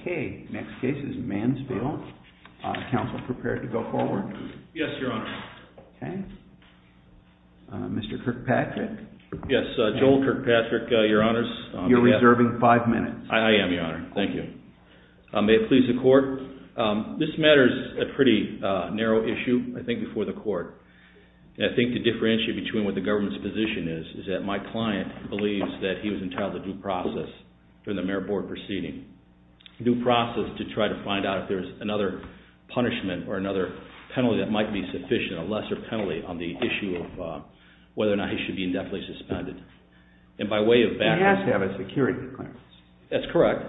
uh hmm so what I'm going to do is I'm going to go ahead and get started. Okay. Next case is Mansfield. Council prepared to go forward? Yes, Your Honor. Okay. Mr. Kirkpatrick? Yes, Joel Kirkpatrick, Your Honors. You're reserving five minutes. I am, Your Honor. Thank you. May it please the Court. This matter is a pretty narrow issue, I think, before the Court. I think to differentiate between what the government's position is, is that my client believes that he was entitled to due process during the Mayor Board proceeding. Due process to try to find out if there's another punishment or another penalty that might be sufficient, a lesser penalty, on the issue of whether or not he should be indefinitely suspended. And by way of background... He has to have a security clearance. That's correct.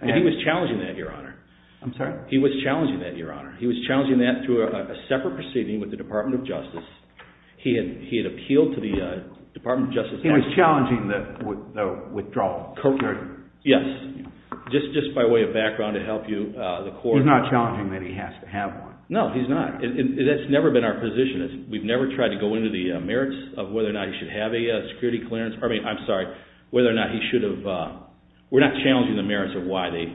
And he was challenging that, Your Honor. I'm sorry? He was challenging that, Your Honor. He was challenging that through a separate proceeding with the Department of Justice. He had appealed to the Department of Justice... He was challenging the withdrawal, co-curtain. Yes. Just by way of background to help you, the Court... He's not challenging that he has to have one. No, he's not. That's never been our position. We've never tried to go into the merits of whether or not he should have a security clearance. I mean, I'm sorry, whether or not he should have... We're not challenging the merits of why they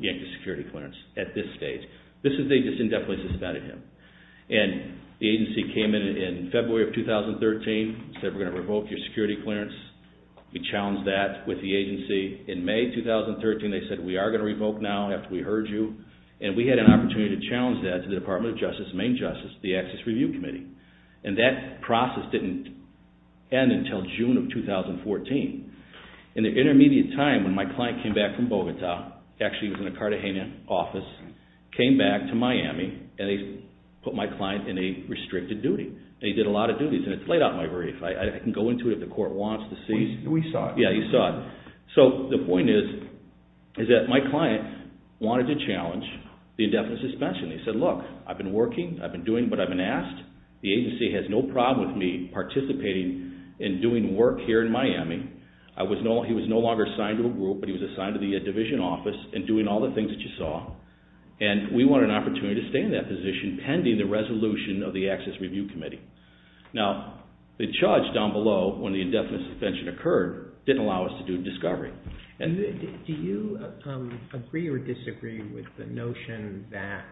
yanked his security clearance at this stage. They just indefinitely suspended him. And the agency came in in February of 2013, said, we're going to revoke your security clearance. We challenged that with the agency. In May 2013, they said, we are going to revoke now after we heard you. And we had an opportunity to challenge that to the Department of Justice, Maine Justice, the Access Review Committee. And that process didn't end until June of 2014. In the intermediate time when my client came back from Bogota, actually he was in a Cartagena office, came back to Miami, and they put my client in a restricted duty. They did a lot of duties. And it's laid out in my brief. I can go into it if the Court wants to see. We saw it. Yeah, you saw it. So the point is, is that my client wanted to challenge the indefinite suspension. They said, look, I've been working, I've been doing what I've been asked. The agency has no problem with me participating in doing work here in Miami. He was no longer assigned to a group, but he was assigned to the division office and doing all the things that you saw. And we want an opportunity to stay in that position pending the resolution of the Access Review Committee. Now, the charge down below, when the indefinite suspension occurred, didn't allow us to do discovery. Do you agree or disagree with the notion that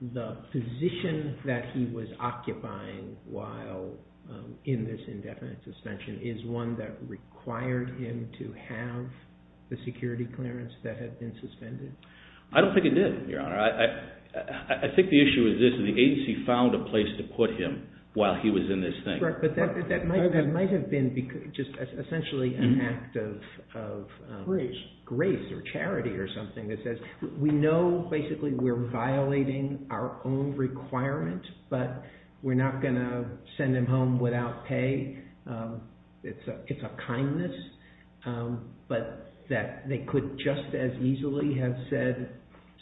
the position that he was occupying while in this indefinite suspension is one that required him to have the security clearance that had been suspended? I don't think it did, Your Honor. I think the issue is this. The agency found a place to put him while he was in this thing. That's right, but that might have been just essentially an act of grace or charity or something that says, we know basically we're violating our own requirement, but we're not going to send him home without pay. It's a kindness, but that they could just as easily have said,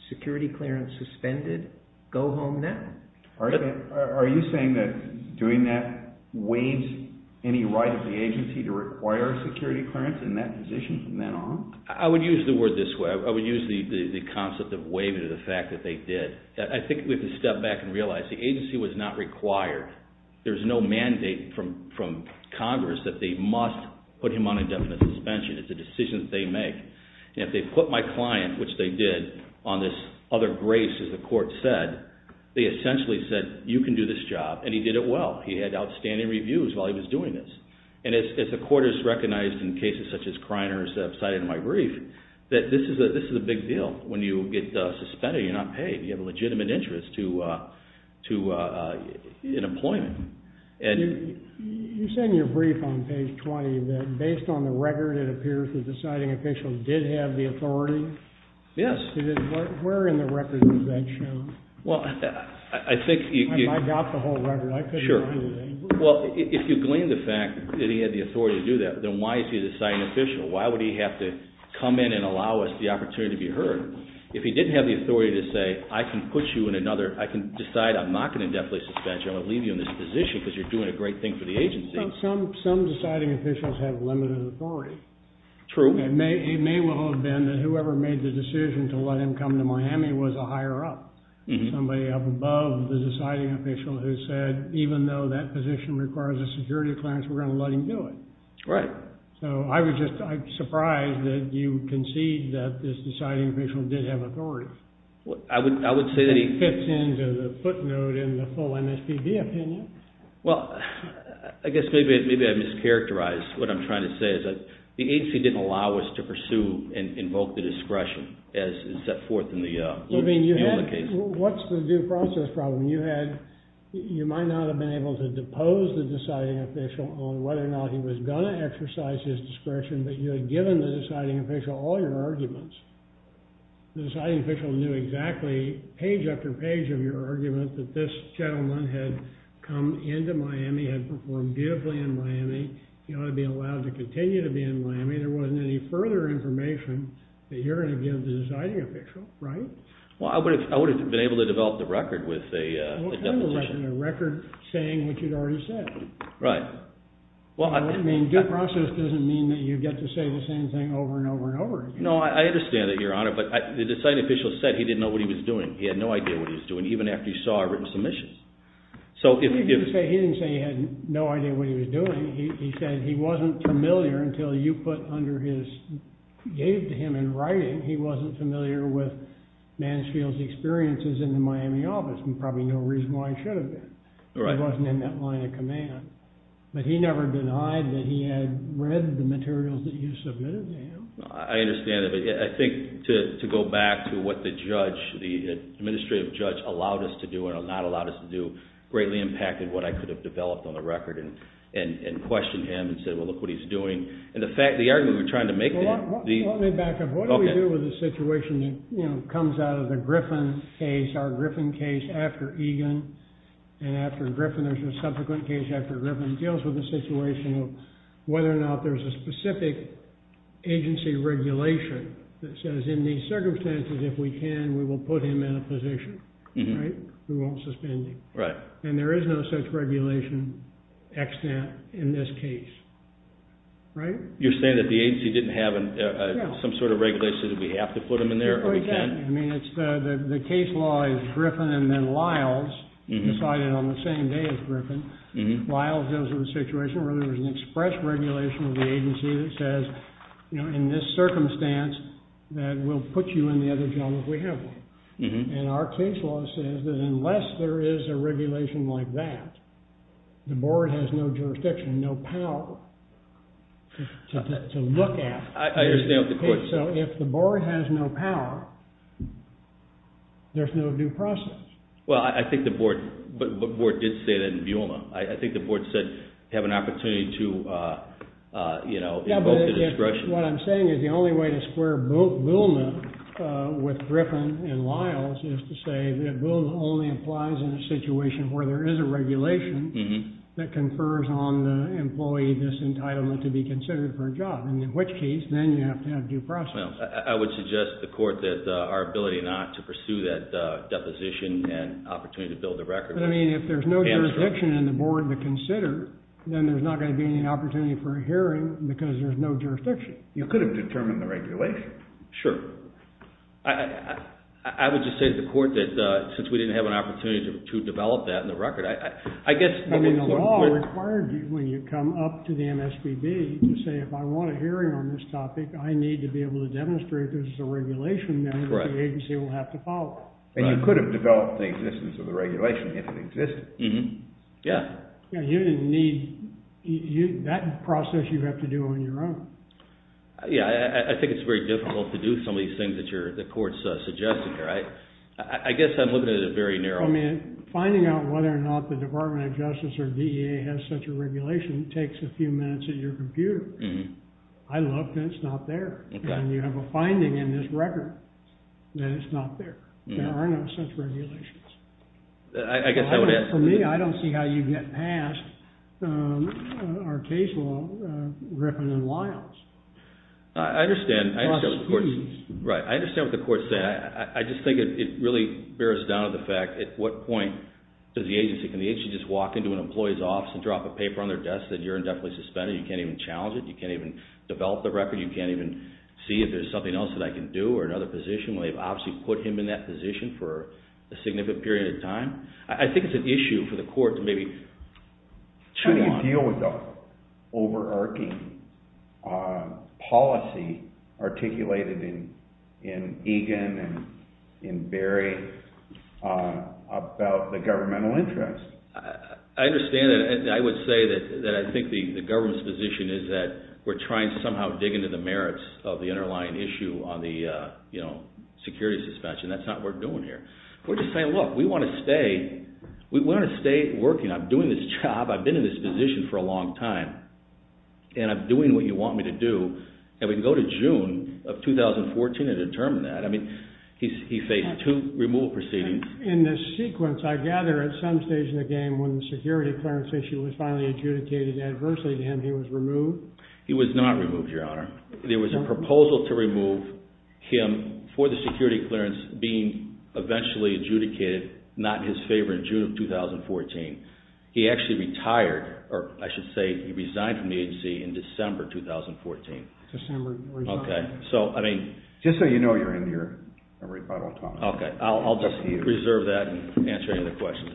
security clearance suspended, go home now. Are you saying that doing that waives any right of the agency to require security clearance in that position from then on? I would use the word this way. I would use the concept of waiving the fact that they did. I think we have to step back and realize the agency was not required. There's no mandate from Congress that they must put him on indefinite suspension. It's a decision that they make. If they put my client, which they did, on this other grace, as the court said, they essentially said, you can do this job, and he did it well. He had outstanding reviews while he was doing this. And as the court has recognized in cases such as Kreiner's cited in my brief, that this is a big deal when you get suspended, you're not paid. You have a legitimate interest in employment. You said in your brief on page 20 that based on the record, it appears that the citing official did have the authority? Yes. Where in the record does that show? Well, I think... I got the whole record. Sure. Well, if you glean the fact that he had the authority to do that, then why is he the citing official? Why would he have to come in and allow us the opportunity to be heard? If he didn't have the authority to say, I can put you in another, I can decide I'm not going to indefinitely suspend you, I'm going to leave you in this position because you're doing a great thing for the agency. Some deciding officials have limited authority. True. It may well have been that whoever made the decision to let him come to Miami was a higher up. Somebody up above the deciding official who said, even though that position requires a security clearance, we're going to let him do it. Right. So I was just surprised that you concede that this deciding official did have authority. I would say that he... Fits into the footnote in the full MSPB opinion. Well, I guess maybe I mischaracterized what I'm trying to say. The agency didn't allow us to pursue and invoke the discretion as is set forth in the case. What's the due process problem? You might not have been able to depose the deciding official on whether or not he was going to exercise his discretion, but you had given the deciding official all your arguments. The deciding official knew exactly, page after page of your argument, that this gentleman had come into Miami, had performed beautifully in Miami, he ought to be allowed to continue to be in Miami. There wasn't any further information that you're going to give the deciding official, right? Well, I would have been able to develop the record with a deposition. A record saying what you'd already said. Right. I mean, due process doesn't mean that you get to say the same thing over and over and over again. No, I understand that, Your Honor, but the deciding official said he didn't know what he was doing. He had no idea what he was doing, even after he saw our written submissions. He didn't say he had no idea what he was doing. He said he wasn't familiar until you gave to him in writing, he wasn't familiar with Mansfield's experiences in the Miami office, and probably no reason why he should have been. He wasn't in that line of command. But he never denied that he had read the materials that you submitted to him. I understand that, but I think to go back to what the judge, the administrative judge allowed us to do and not allowed us to do, greatly impacted what I could have developed on the record and questioned him and said, well, look what he's doing. And the argument we were trying to make there. Well, let me back up. What do we do with a situation that comes out of the Griffin case, our Griffin case after Egan and after Griffin, there's a subsequent case after Griffin, and it deals with a situation of whether or not there's a specific agency regulation that says in these circumstances, if we can, we will put him in a position, right? We won't suspend him. And there is no such regulation in this case, right? You're saying that the agency didn't have some sort of regulation that we have to put him in there or we can't? I mean, the case law is Griffin and then Lyles decided on the same day as Griffin. Lyles goes to the situation where there was an express regulation of the agency that says, you know, in this circumstance, that we'll put you in the other jail if we have to. And our case law says that unless there is a regulation like that, the board has no jurisdiction, no power to look at. I understand what the question is. So if the board has no power, there's no due process. Well, I think the board did say that in BULMA. I think the board said have an opportunity to invoke the discretion. What I'm saying is the only way to square BULMA with Griffin and Lyles is to say that BULMA only applies in a situation where there is a regulation that confers on the employee this entitlement to be considered for a job, in which case then you have to have due process. Well, I would suggest to the court that our ability not to pursue that deposition and opportunity to build a record. I mean, if there's no jurisdiction in the board to consider, then there's not going to be any opportunity for a hearing because there's no jurisdiction. You could have determined the regulation. Sure. I would just say to the court that since we didn't have an opportunity to develop that in the record, I guess... I mean, the law required you when you come up to the MSPB to say, if I want a hearing on this topic, I need to be able to demonstrate there's a regulation there that the agency will have to follow. And you could have developed the existence of the regulation if it existed. Yeah. Yeah, you didn't need... That process you have to do on your own. Yeah, I think it's very difficult to do some of these things that the court's suggesting here. I guess I'm looking at it very narrowly. I mean, finding out whether or not the Department of Justice or DEA has such a regulation takes a few minutes at your computer. I looked and it's not there. And you have a finding in this record that it's not there. There are no such regulations. I guess I would ask... For me, I don't see how you get past our case law, Griffin and Wiles. I understand. Right. I understand what the court said. I just think it really bears down to the fact at what point does the agency... You can't go into an employee's office and drop a paper on their desk that you're indefinitely suspended. You can't even challenge it. You can't even develop the record. You can't even see if there's something else that I can do or another position when they've obviously put him in that position for a significant period of time. I think it's an issue for the court to maybe... How do you deal with the overarching policy articulated in Egan and Berry about the governmental interest? I understand that. I would say that I think the government's position is that we're trying to somehow dig into the merits of the underlying issue on the security suspension. That's not what we're doing here. We're just saying, look, we want to stay working. I'm doing this job. I've been in this position for a long time. And I'm doing what you want me to do. And we can go to June of 2014 and determine that. He faced two removal proceedings. In this sequence, I gather at some stage in the game, when the security clearance issue was finally adjudicated adversely to him, he was removed? He was not removed, Your Honor. There was a proposal to remove him for the security clearance being eventually adjudicated not in his favor in June of 2014. He actually retired, or I should say he resigned from the agency in December 2014. Okay. Just so you know, you're in here every five or 12 hours. Okay. I'll just reserve that and answer any other questions.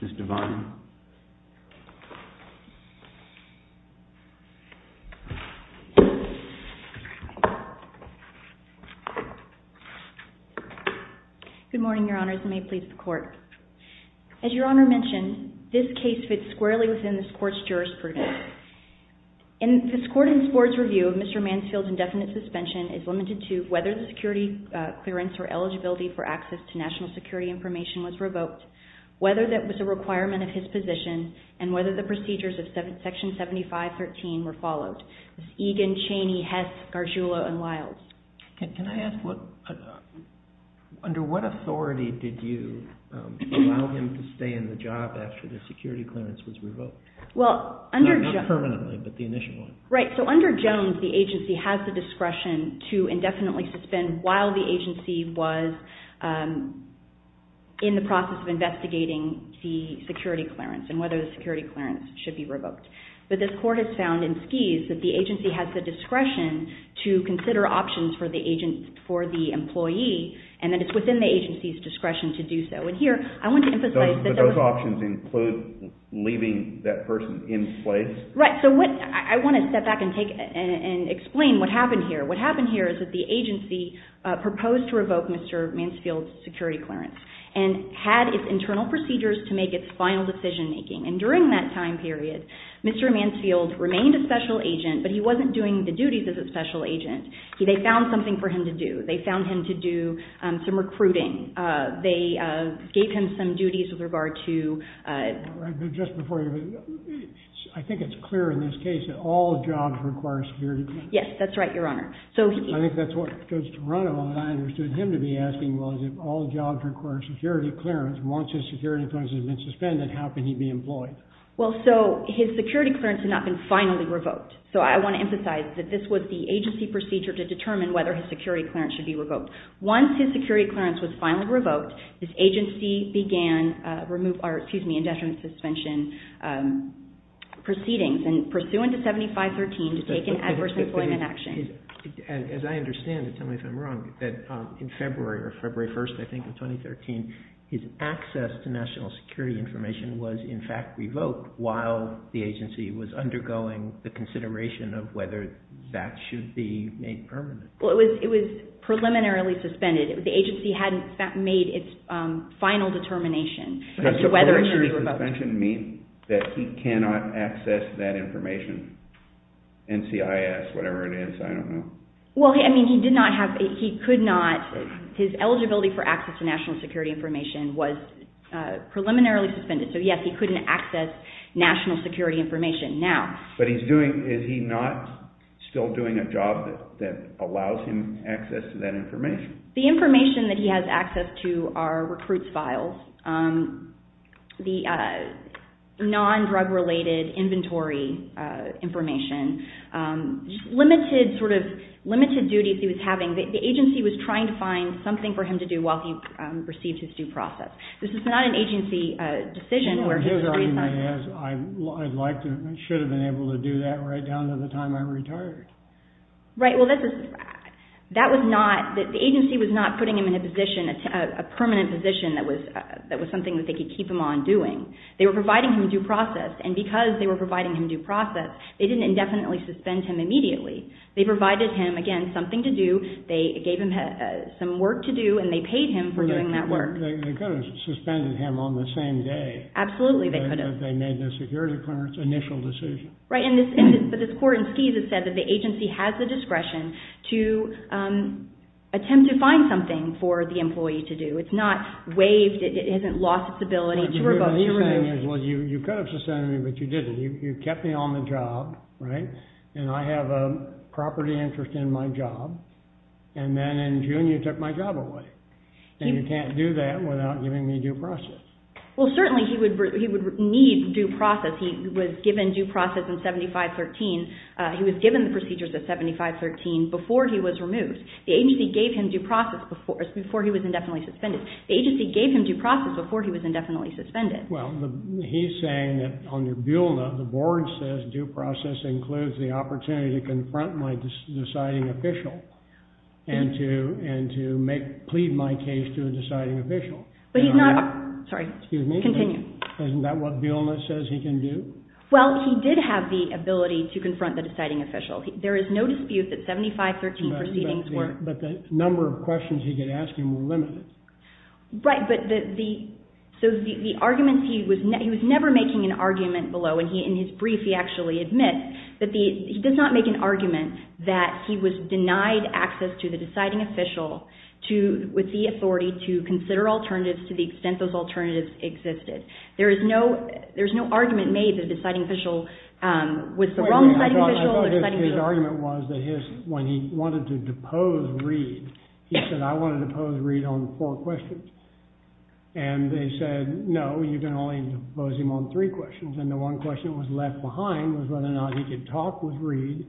Ms. Devine. Ms. Devine. Good morning, Your Honors. And may it please the Court. As Your Honor mentioned, this case fits squarely within this Court's jurisprudence. In this Court and this Board's review, Mr. Mansfield's indefinite suspension is limited to whether the security clearance or eligibility for access to national security information was revoked, whether that was a requirement of his position, and whether the procedures of Section 7513 were followed. Egan, Chaney, Hess, Gargiulo, and Wiles. Can I ask, under what authority did you allow him to stay in the job after the security clearance was revoked? Not permanently, but the initial one. Right. So under Jones, the agency has the discretion to indefinitely suspend while the agency was in the process of investigating the security clearance and whether the security clearance should be revoked. But this Court has found in Skies that the agency has the discretion to consider options for the employee, and that it's within the agency's discretion to do so. And here, I want to emphasize that those options include leaving that person in place? Right. So I want to step back and explain what happened here. What happened here is that the agency proposed to revoke Mr. Mansfield's security clearance and had its internal procedures to make its final decision making. And during that time period, Mr. Mansfield remained a special agent, but he wasn't doing the duties as a special agent. They found something for him to do. They found him to do some recruiting. They gave him some duties with regard to... I think it's clear in this case that all jobs require security clearance. Yes, that's right, Your Honor. I think that's what goes to run on. I understood him to be asking, well, if all jobs require security clearance, once his security clearance has been suspended, how can he be employed? Well, so his security clearance had not been finally revoked. So I want to emphasize that this was the agency procedure to determine whether his security clearance should be revoked. Once his security clearance was finally revoked, this agency began indefinite suspension proceedings and pursuant to 7513 to take an adverse employment action. As I understand it, tell me if I'm wrong, that in February or February 1st, I think, in 2013, his access to national security information was in fact revoked while the agency was undergoing the consideration of whether that should be made permanent. Well, it was preliminarily suspended. The agency hadn't made its final determination as to whether it should be revoked. Does suspension mean that he cannot access that information? NCIS, whatever it is, I don't know. Well, I mean, he did not have, he could not, his eligibility for access to national security information was preliminarily suspended. So yes, he couldn't access national security information now. But he's doing, is he not still doing a job that allows him access to that information? The information that he has access to are recruits' files. The non-drug related inventory information. Limited sort of, limited duties he was having. The agency was trying to find something for him to do while he received his due process. This is not an agency decision. I should have been able to do that right down to the time I retired. Right, well, that was not, the agency was not putting him in a position, a permanent position that was something that they could keep him on doing. They were providing him due process. And because they were providing him due process, they didn't indefinitely suspend him immediately. They provided him, again, something to do. They gave him some work to do and they paid him for doing that work. They could have suspended him on the same day. Absolutely they could have. That they made the security clearance initial decision. Right, but this court in Skies has said that the agency has the discretion to attempt to find something for the employee to do. It's not waived. It hasn't lost its ability to revoke. Well, you could have suspended me, but you didn't. You kept me on the job, right? And I have a property interest in my job. And then in June you took my job away. And you can't do that without giving me due process. Well, certainly he would need due process. He was given due process in 7513. He was given the procedures of 7513 before he was removed. The agency gave him due process before he was indefinitely suspended. The agency gave him due process before he was indefinitely suspended. Well, he's saying that under Buhlna, the board says due process includes the opportunity to confront my deciding official and to plead my case to a deciding official. But he's not, sorry, continue. Isn't that what Buhlna says he can do? Well, he did have the ability to confront the deciding official. There is no dispute that 7513 proceedings were... But the number of questions he could ask him were limited. Right, but the... So the arguments he was... He was never making an argument below, and in his brief he actually admits that he does not make an argument that he was denied access to the deciding official with the authority to consider alternatives to the extent those alternatives existed. There is no argument made that the deciding official was the wrong deciding official. His argument was that when he wanted to depose Reid, he said, I want to depose Reid on four questions. And they said, no, you can only depose him on three questions. And the one question that was left behind was whether or not he could talk with Reid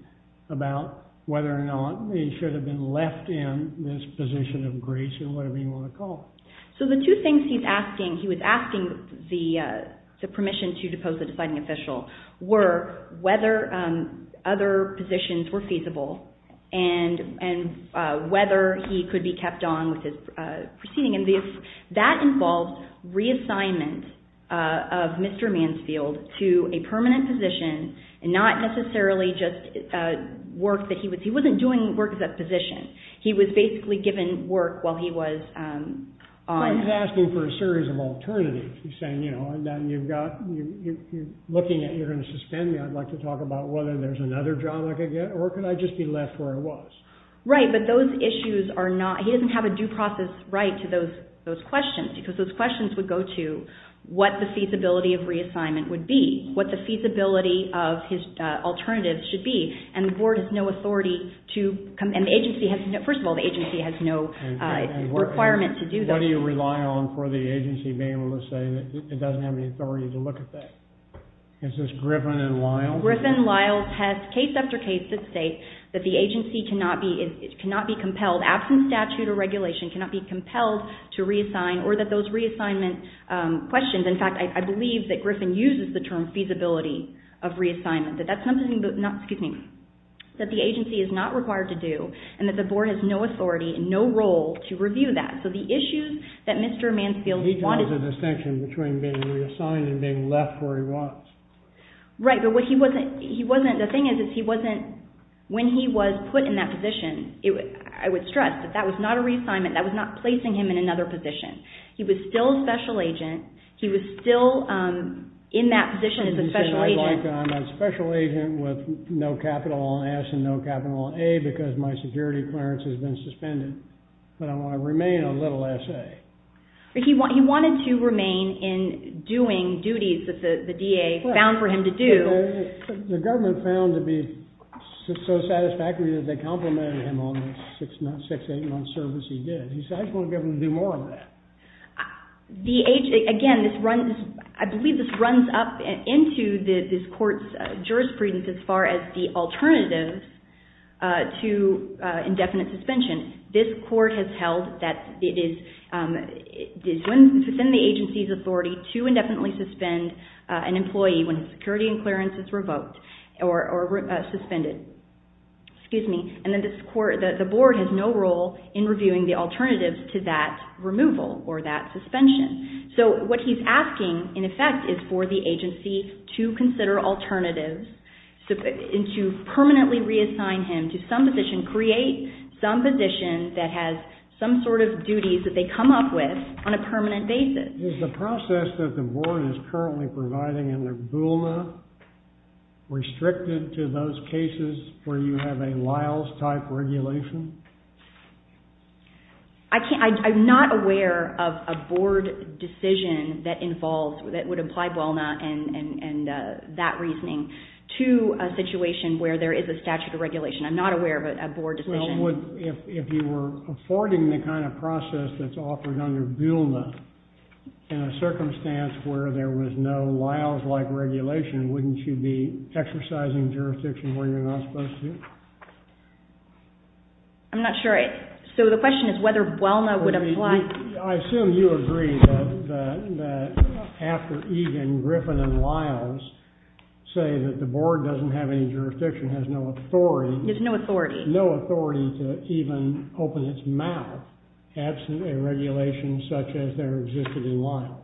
about whether or not he should have been left in this position of grace or whatever you want to call it. So the two things he's asking, he was asking the permission to depose the deciding official, were whether other positions were feasible and whether he could be kept on with his proceeding. And that involved reassignment of Mr. Mansfield to a permanent position and not necessarily just work that he was... He wasn't doing work as a physician. He was basically given work while he was on... He's saying, you know, and then you've got... You're looking at... You're going to suspend me. I'd like to talk about whether there's another job I could get or could I just be left where I was? Right, but those issues are not... He doesn't have a due process right to those questions because those questions would go to what the feasibility of reassignment would be, what the feasibility of his alternatives should be. And the board has no authority to... And the agency has... First of all, the agency has no requirement to do that. What do you rely on for the agency being able to say that it doesn't have any authority to look at that? Is this Griffin and Lyle? Griffin and Lyle test case after case that state that the agency cannot be compelled, absent statute or regulation, cannot be compelled to reassign or that those reassignment questions... In fact, I believe that Griffin uses the term feasibility of reassignment, that that's something that... Excuse me. That the agency is not required to do and that the board has no authority and no role to review that. So the issues that Mr. Mansfield wanted... He draws a distinction between being reassigned and being left where he was. Right, but what he wasn't... The thing is, he wasn't... When he was put in that position, I would stress that that was not a reassignment. That was not placing him in another position. He was still a special agent. He was still in that position as a special agent. He said, I'd like to... I'm a special agent with no capital on S and no capital on A because my security clearance has been suspended. But I want to remain on little S.A. He wanted to remain in doing duties that the D.A. found for him to do. The government found to be so satisfactory that they complimented him on the six, eight-month service he did. He said, I just want to get him to do more of that. Again, I believe this runs up into this court's jurisprudence as far as the alternatives to indefinite suspension. This court has held that it is within the agency's authority to indefinitely suspend an employee when his security and clearance is revoked or suspended. Excuse me. The board has no role in reviewing the alternatives to that removal or that suspension. What he's asking, in effect, is for the agency to consider alternatives and to permanently reassign him to some position, create some position that has some sort of duties that they come up with on a permanent basis. Is the process that the board is currently providing under BULNA restricted to those cases where you have a Liles-type regulation? I'm not aware of a board decision that involves, that would apply BULNA and that reasoning to a situation where there is a statute of regulation. I'm not aware of a board decision. Well, if you were affording the kind of process that's offered under BULNA in a circumstance where there was no Liles-like regulation, wouldn't you be exercising jurisdiction where you're not supposed to? I'm not sure. So the question is whether BULNA would apply. I assume you agree that after Eden, Griffin, and Liles say that the board doesn't have any jurisdiction, has no authority. There's no authority. No authority to even open its mouth absent a regulation such as there existed in Liles.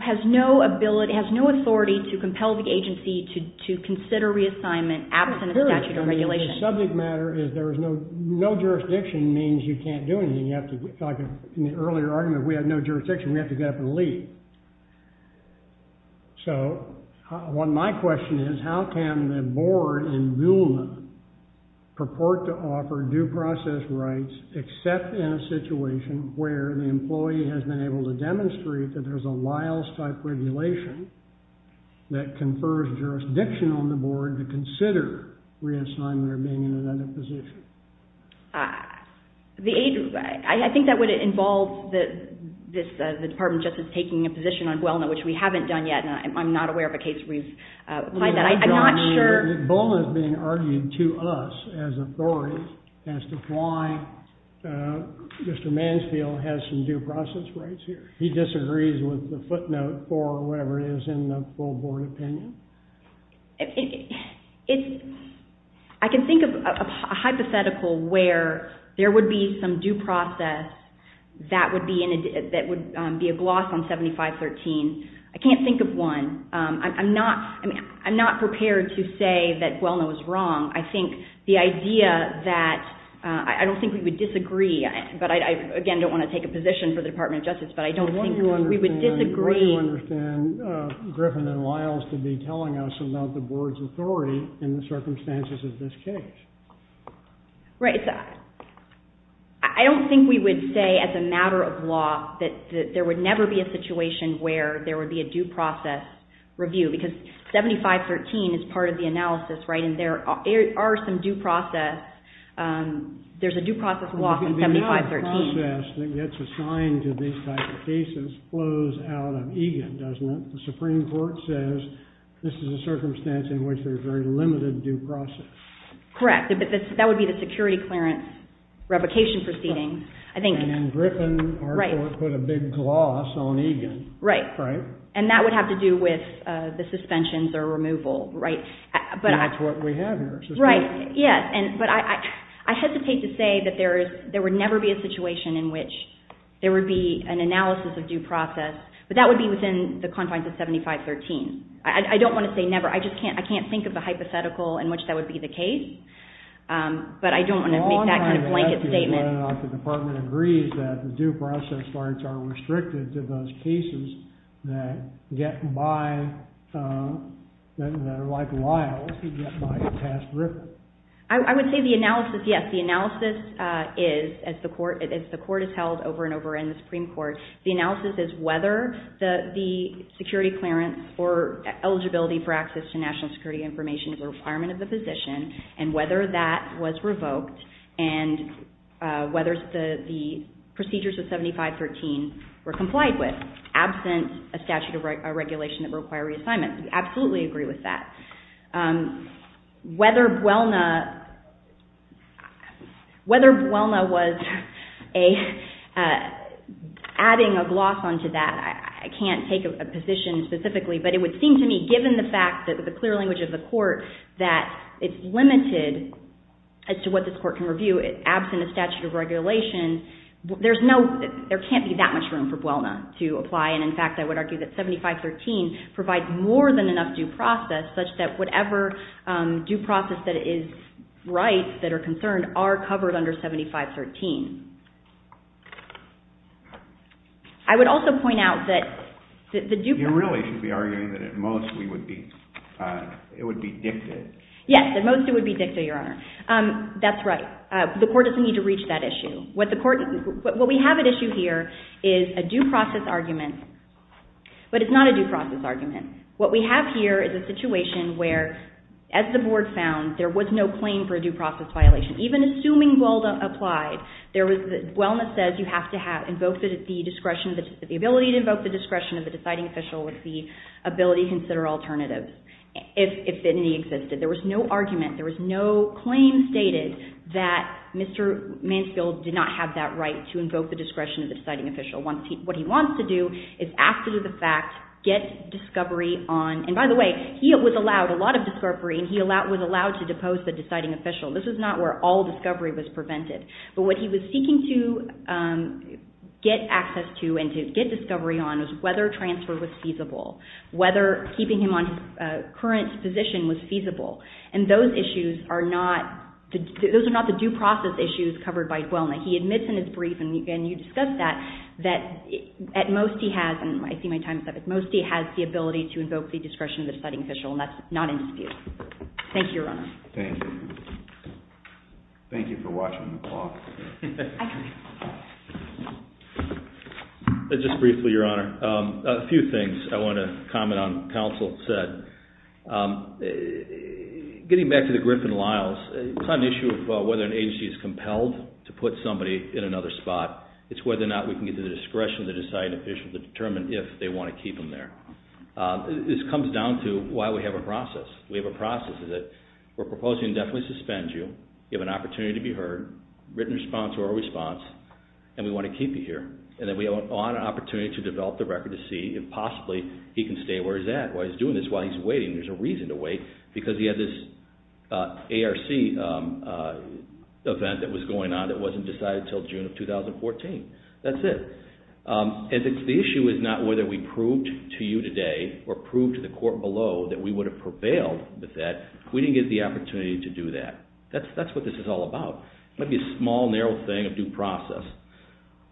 Has no ability, has no authority to compel the agency to consider reassignment absent a statute of regulation. The subject matter is there is no, no jurisdiction means you can't do anything. You have to, like in the earlier argument, if we have no jurisdiction, we have to get up and leave. So what my question is, is how can the board in BULNA purport to offer due process rights except in a situation where the employee has been able to demonstrate that there's a Liles-type regulation that confers jurisdiction on the board to consider reassignment or being in another position? I think that would involve the Department of Justice which we haven't done yet, and I'm not aware of a case where we've applied that. I'm not sure... BULNA is being argued to us as authorities as to why Mr. Mansfield has some due process rights here. He disagrees with the footnote or whatever it is in the full board opinion. I can think of a hypothetical where there would be some due process that would be a gloss on 7513. I can't think of one. I'm not prepared to say that BULNA was wrong. I think the idea that... I don't think we would disagree, but I, again, don't want to take a position for the Department of Justice, but I don't think we would disagree. What do you understand Griffin and Liles to be telling us about the board's authority in the circumstances of this case? Right. I don't think we would say as a matter of law that there would never be a situation where there would be a due process review because 7513 is part of the analysis, right? There are some due process... There's a due process law in 7513. The process that gets assigned to these types of cases flows out of EGAN, doesn't it? The Supreme Court says this is a circumstance in which there's very limited due process. Correct. That would be the security clearance revocation proceeding. And Griffin, our court, put a big gloss on EGAN. Right. And that would have to do with the suspensions or removal, right? That's what we have here. Right, yes. But I hesitate to say that there would never be a situation in which there would be an analysis of due process, but that would be within the confines of 7513. I don't want to say never. I can't think of a hypothetical in which that would be the case, but I don't want to make that kind of blanket statement. The Department agrees that the due process charts are restricted to those cases that get by, that are like Lyle's, who get by to pass Griffin. I would say the analysis, yes, the analysis is, as the court has held over and over in the Supreme Court, the analysis is whether the security clearance or eligibility for access to national security information is a requirement of the position and whether that was revoked and whether the procedures of 7513 were complied with. Absent a statute of regulation that require reassignment. We absolutely agree with that. Whether Buelna was adding a gloss onto that, I can't take a position specifically, but it would seem to me given the fact that the clear language of the court that it's limited as to what this court can review absent a statute of regulation, there can't be that much room for Buelna to apply. And in fact, I would argue that 7513 provides more than enough due process such that whatever due process that is right, that are concerned, are covered under 7513. I would also point out that the due process... You really should be arguing that at most it would be dicted. Yes, at most it would be dicted, Your Honor. That's right. The court doesn't need to reach that issue. What we have at issue here is a due process argument, but it's not a due process argument. What we have here is a situation where, as the board found, there was no claim for a due process violation. Even assuming Buelna applied, Buelna says you have to have the ability to invoke the discretion of the deciding official with the ability to consider alternatives if any existed. There was no argument. There was no claim stated that Mr. Mansfield did not have that right to invoke the discretion of the deciding official. What he wants to do is, after the fact, get discovery on... And by the way, he was allowed a lot of discovery, and he was allowed to depose the deciding official. This was not where all discovery was prevented. But what he was seeking to get access to and to get discovery on was whether transfer was feasible, whether keeping him on his current position was feasible. And those issues are not... Those are not the due process issues covered by Buelna. He admits in his brief, and you discussed that, that at most he has... And I see my time is up. At most he has the ability to invoke the discretion of the deciding official, and that's not in dispute. Thank you, Your Honor. Thank you. Thank you for watching the talk. I appreciate it. Just briefly, Your Honor, a few things I want to comment on counsel said. Getting back to the Griffin-Liles, it's not an issue of whether an agency is compelled to put somebody in another spot. It's whether or not we can get to the discretion of the deciding official to determine if they want to keep him there. This comes down to why we have a process. We have a process. We're proposing to definitely suspend you. You have an opportunity to be heard. Written response or oral response. And we want to keep you here. And then we want an opportunity to develop the record to see if possibly he can stay where he's at while he's doing this, while he's waiting. There's a reason to wait because he had this ARC event that was going on that wasn't decided until June of 2014. That's it. And the issue is not whether we proved to you today or proved to the court below that we would have prevailed with that. We didn't get the opportunity to do that. That's what this is all about. It might be a small, narrow thing of due process.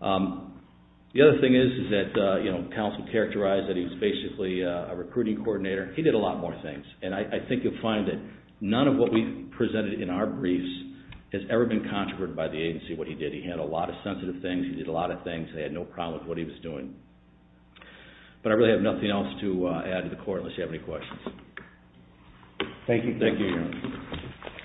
The other thing is that counsel characterized that he was basically a recruiting coordinator. He did a lot more things. And I think you'll find that none of what we presented in our briefs has ever been controverted by the agency what he did. He handled a lot of sensitive things. He did a lot of things. They had no problem with what he was doing. But I really have nothing else unless you have any questions. Thank you. Thank you, Aaron.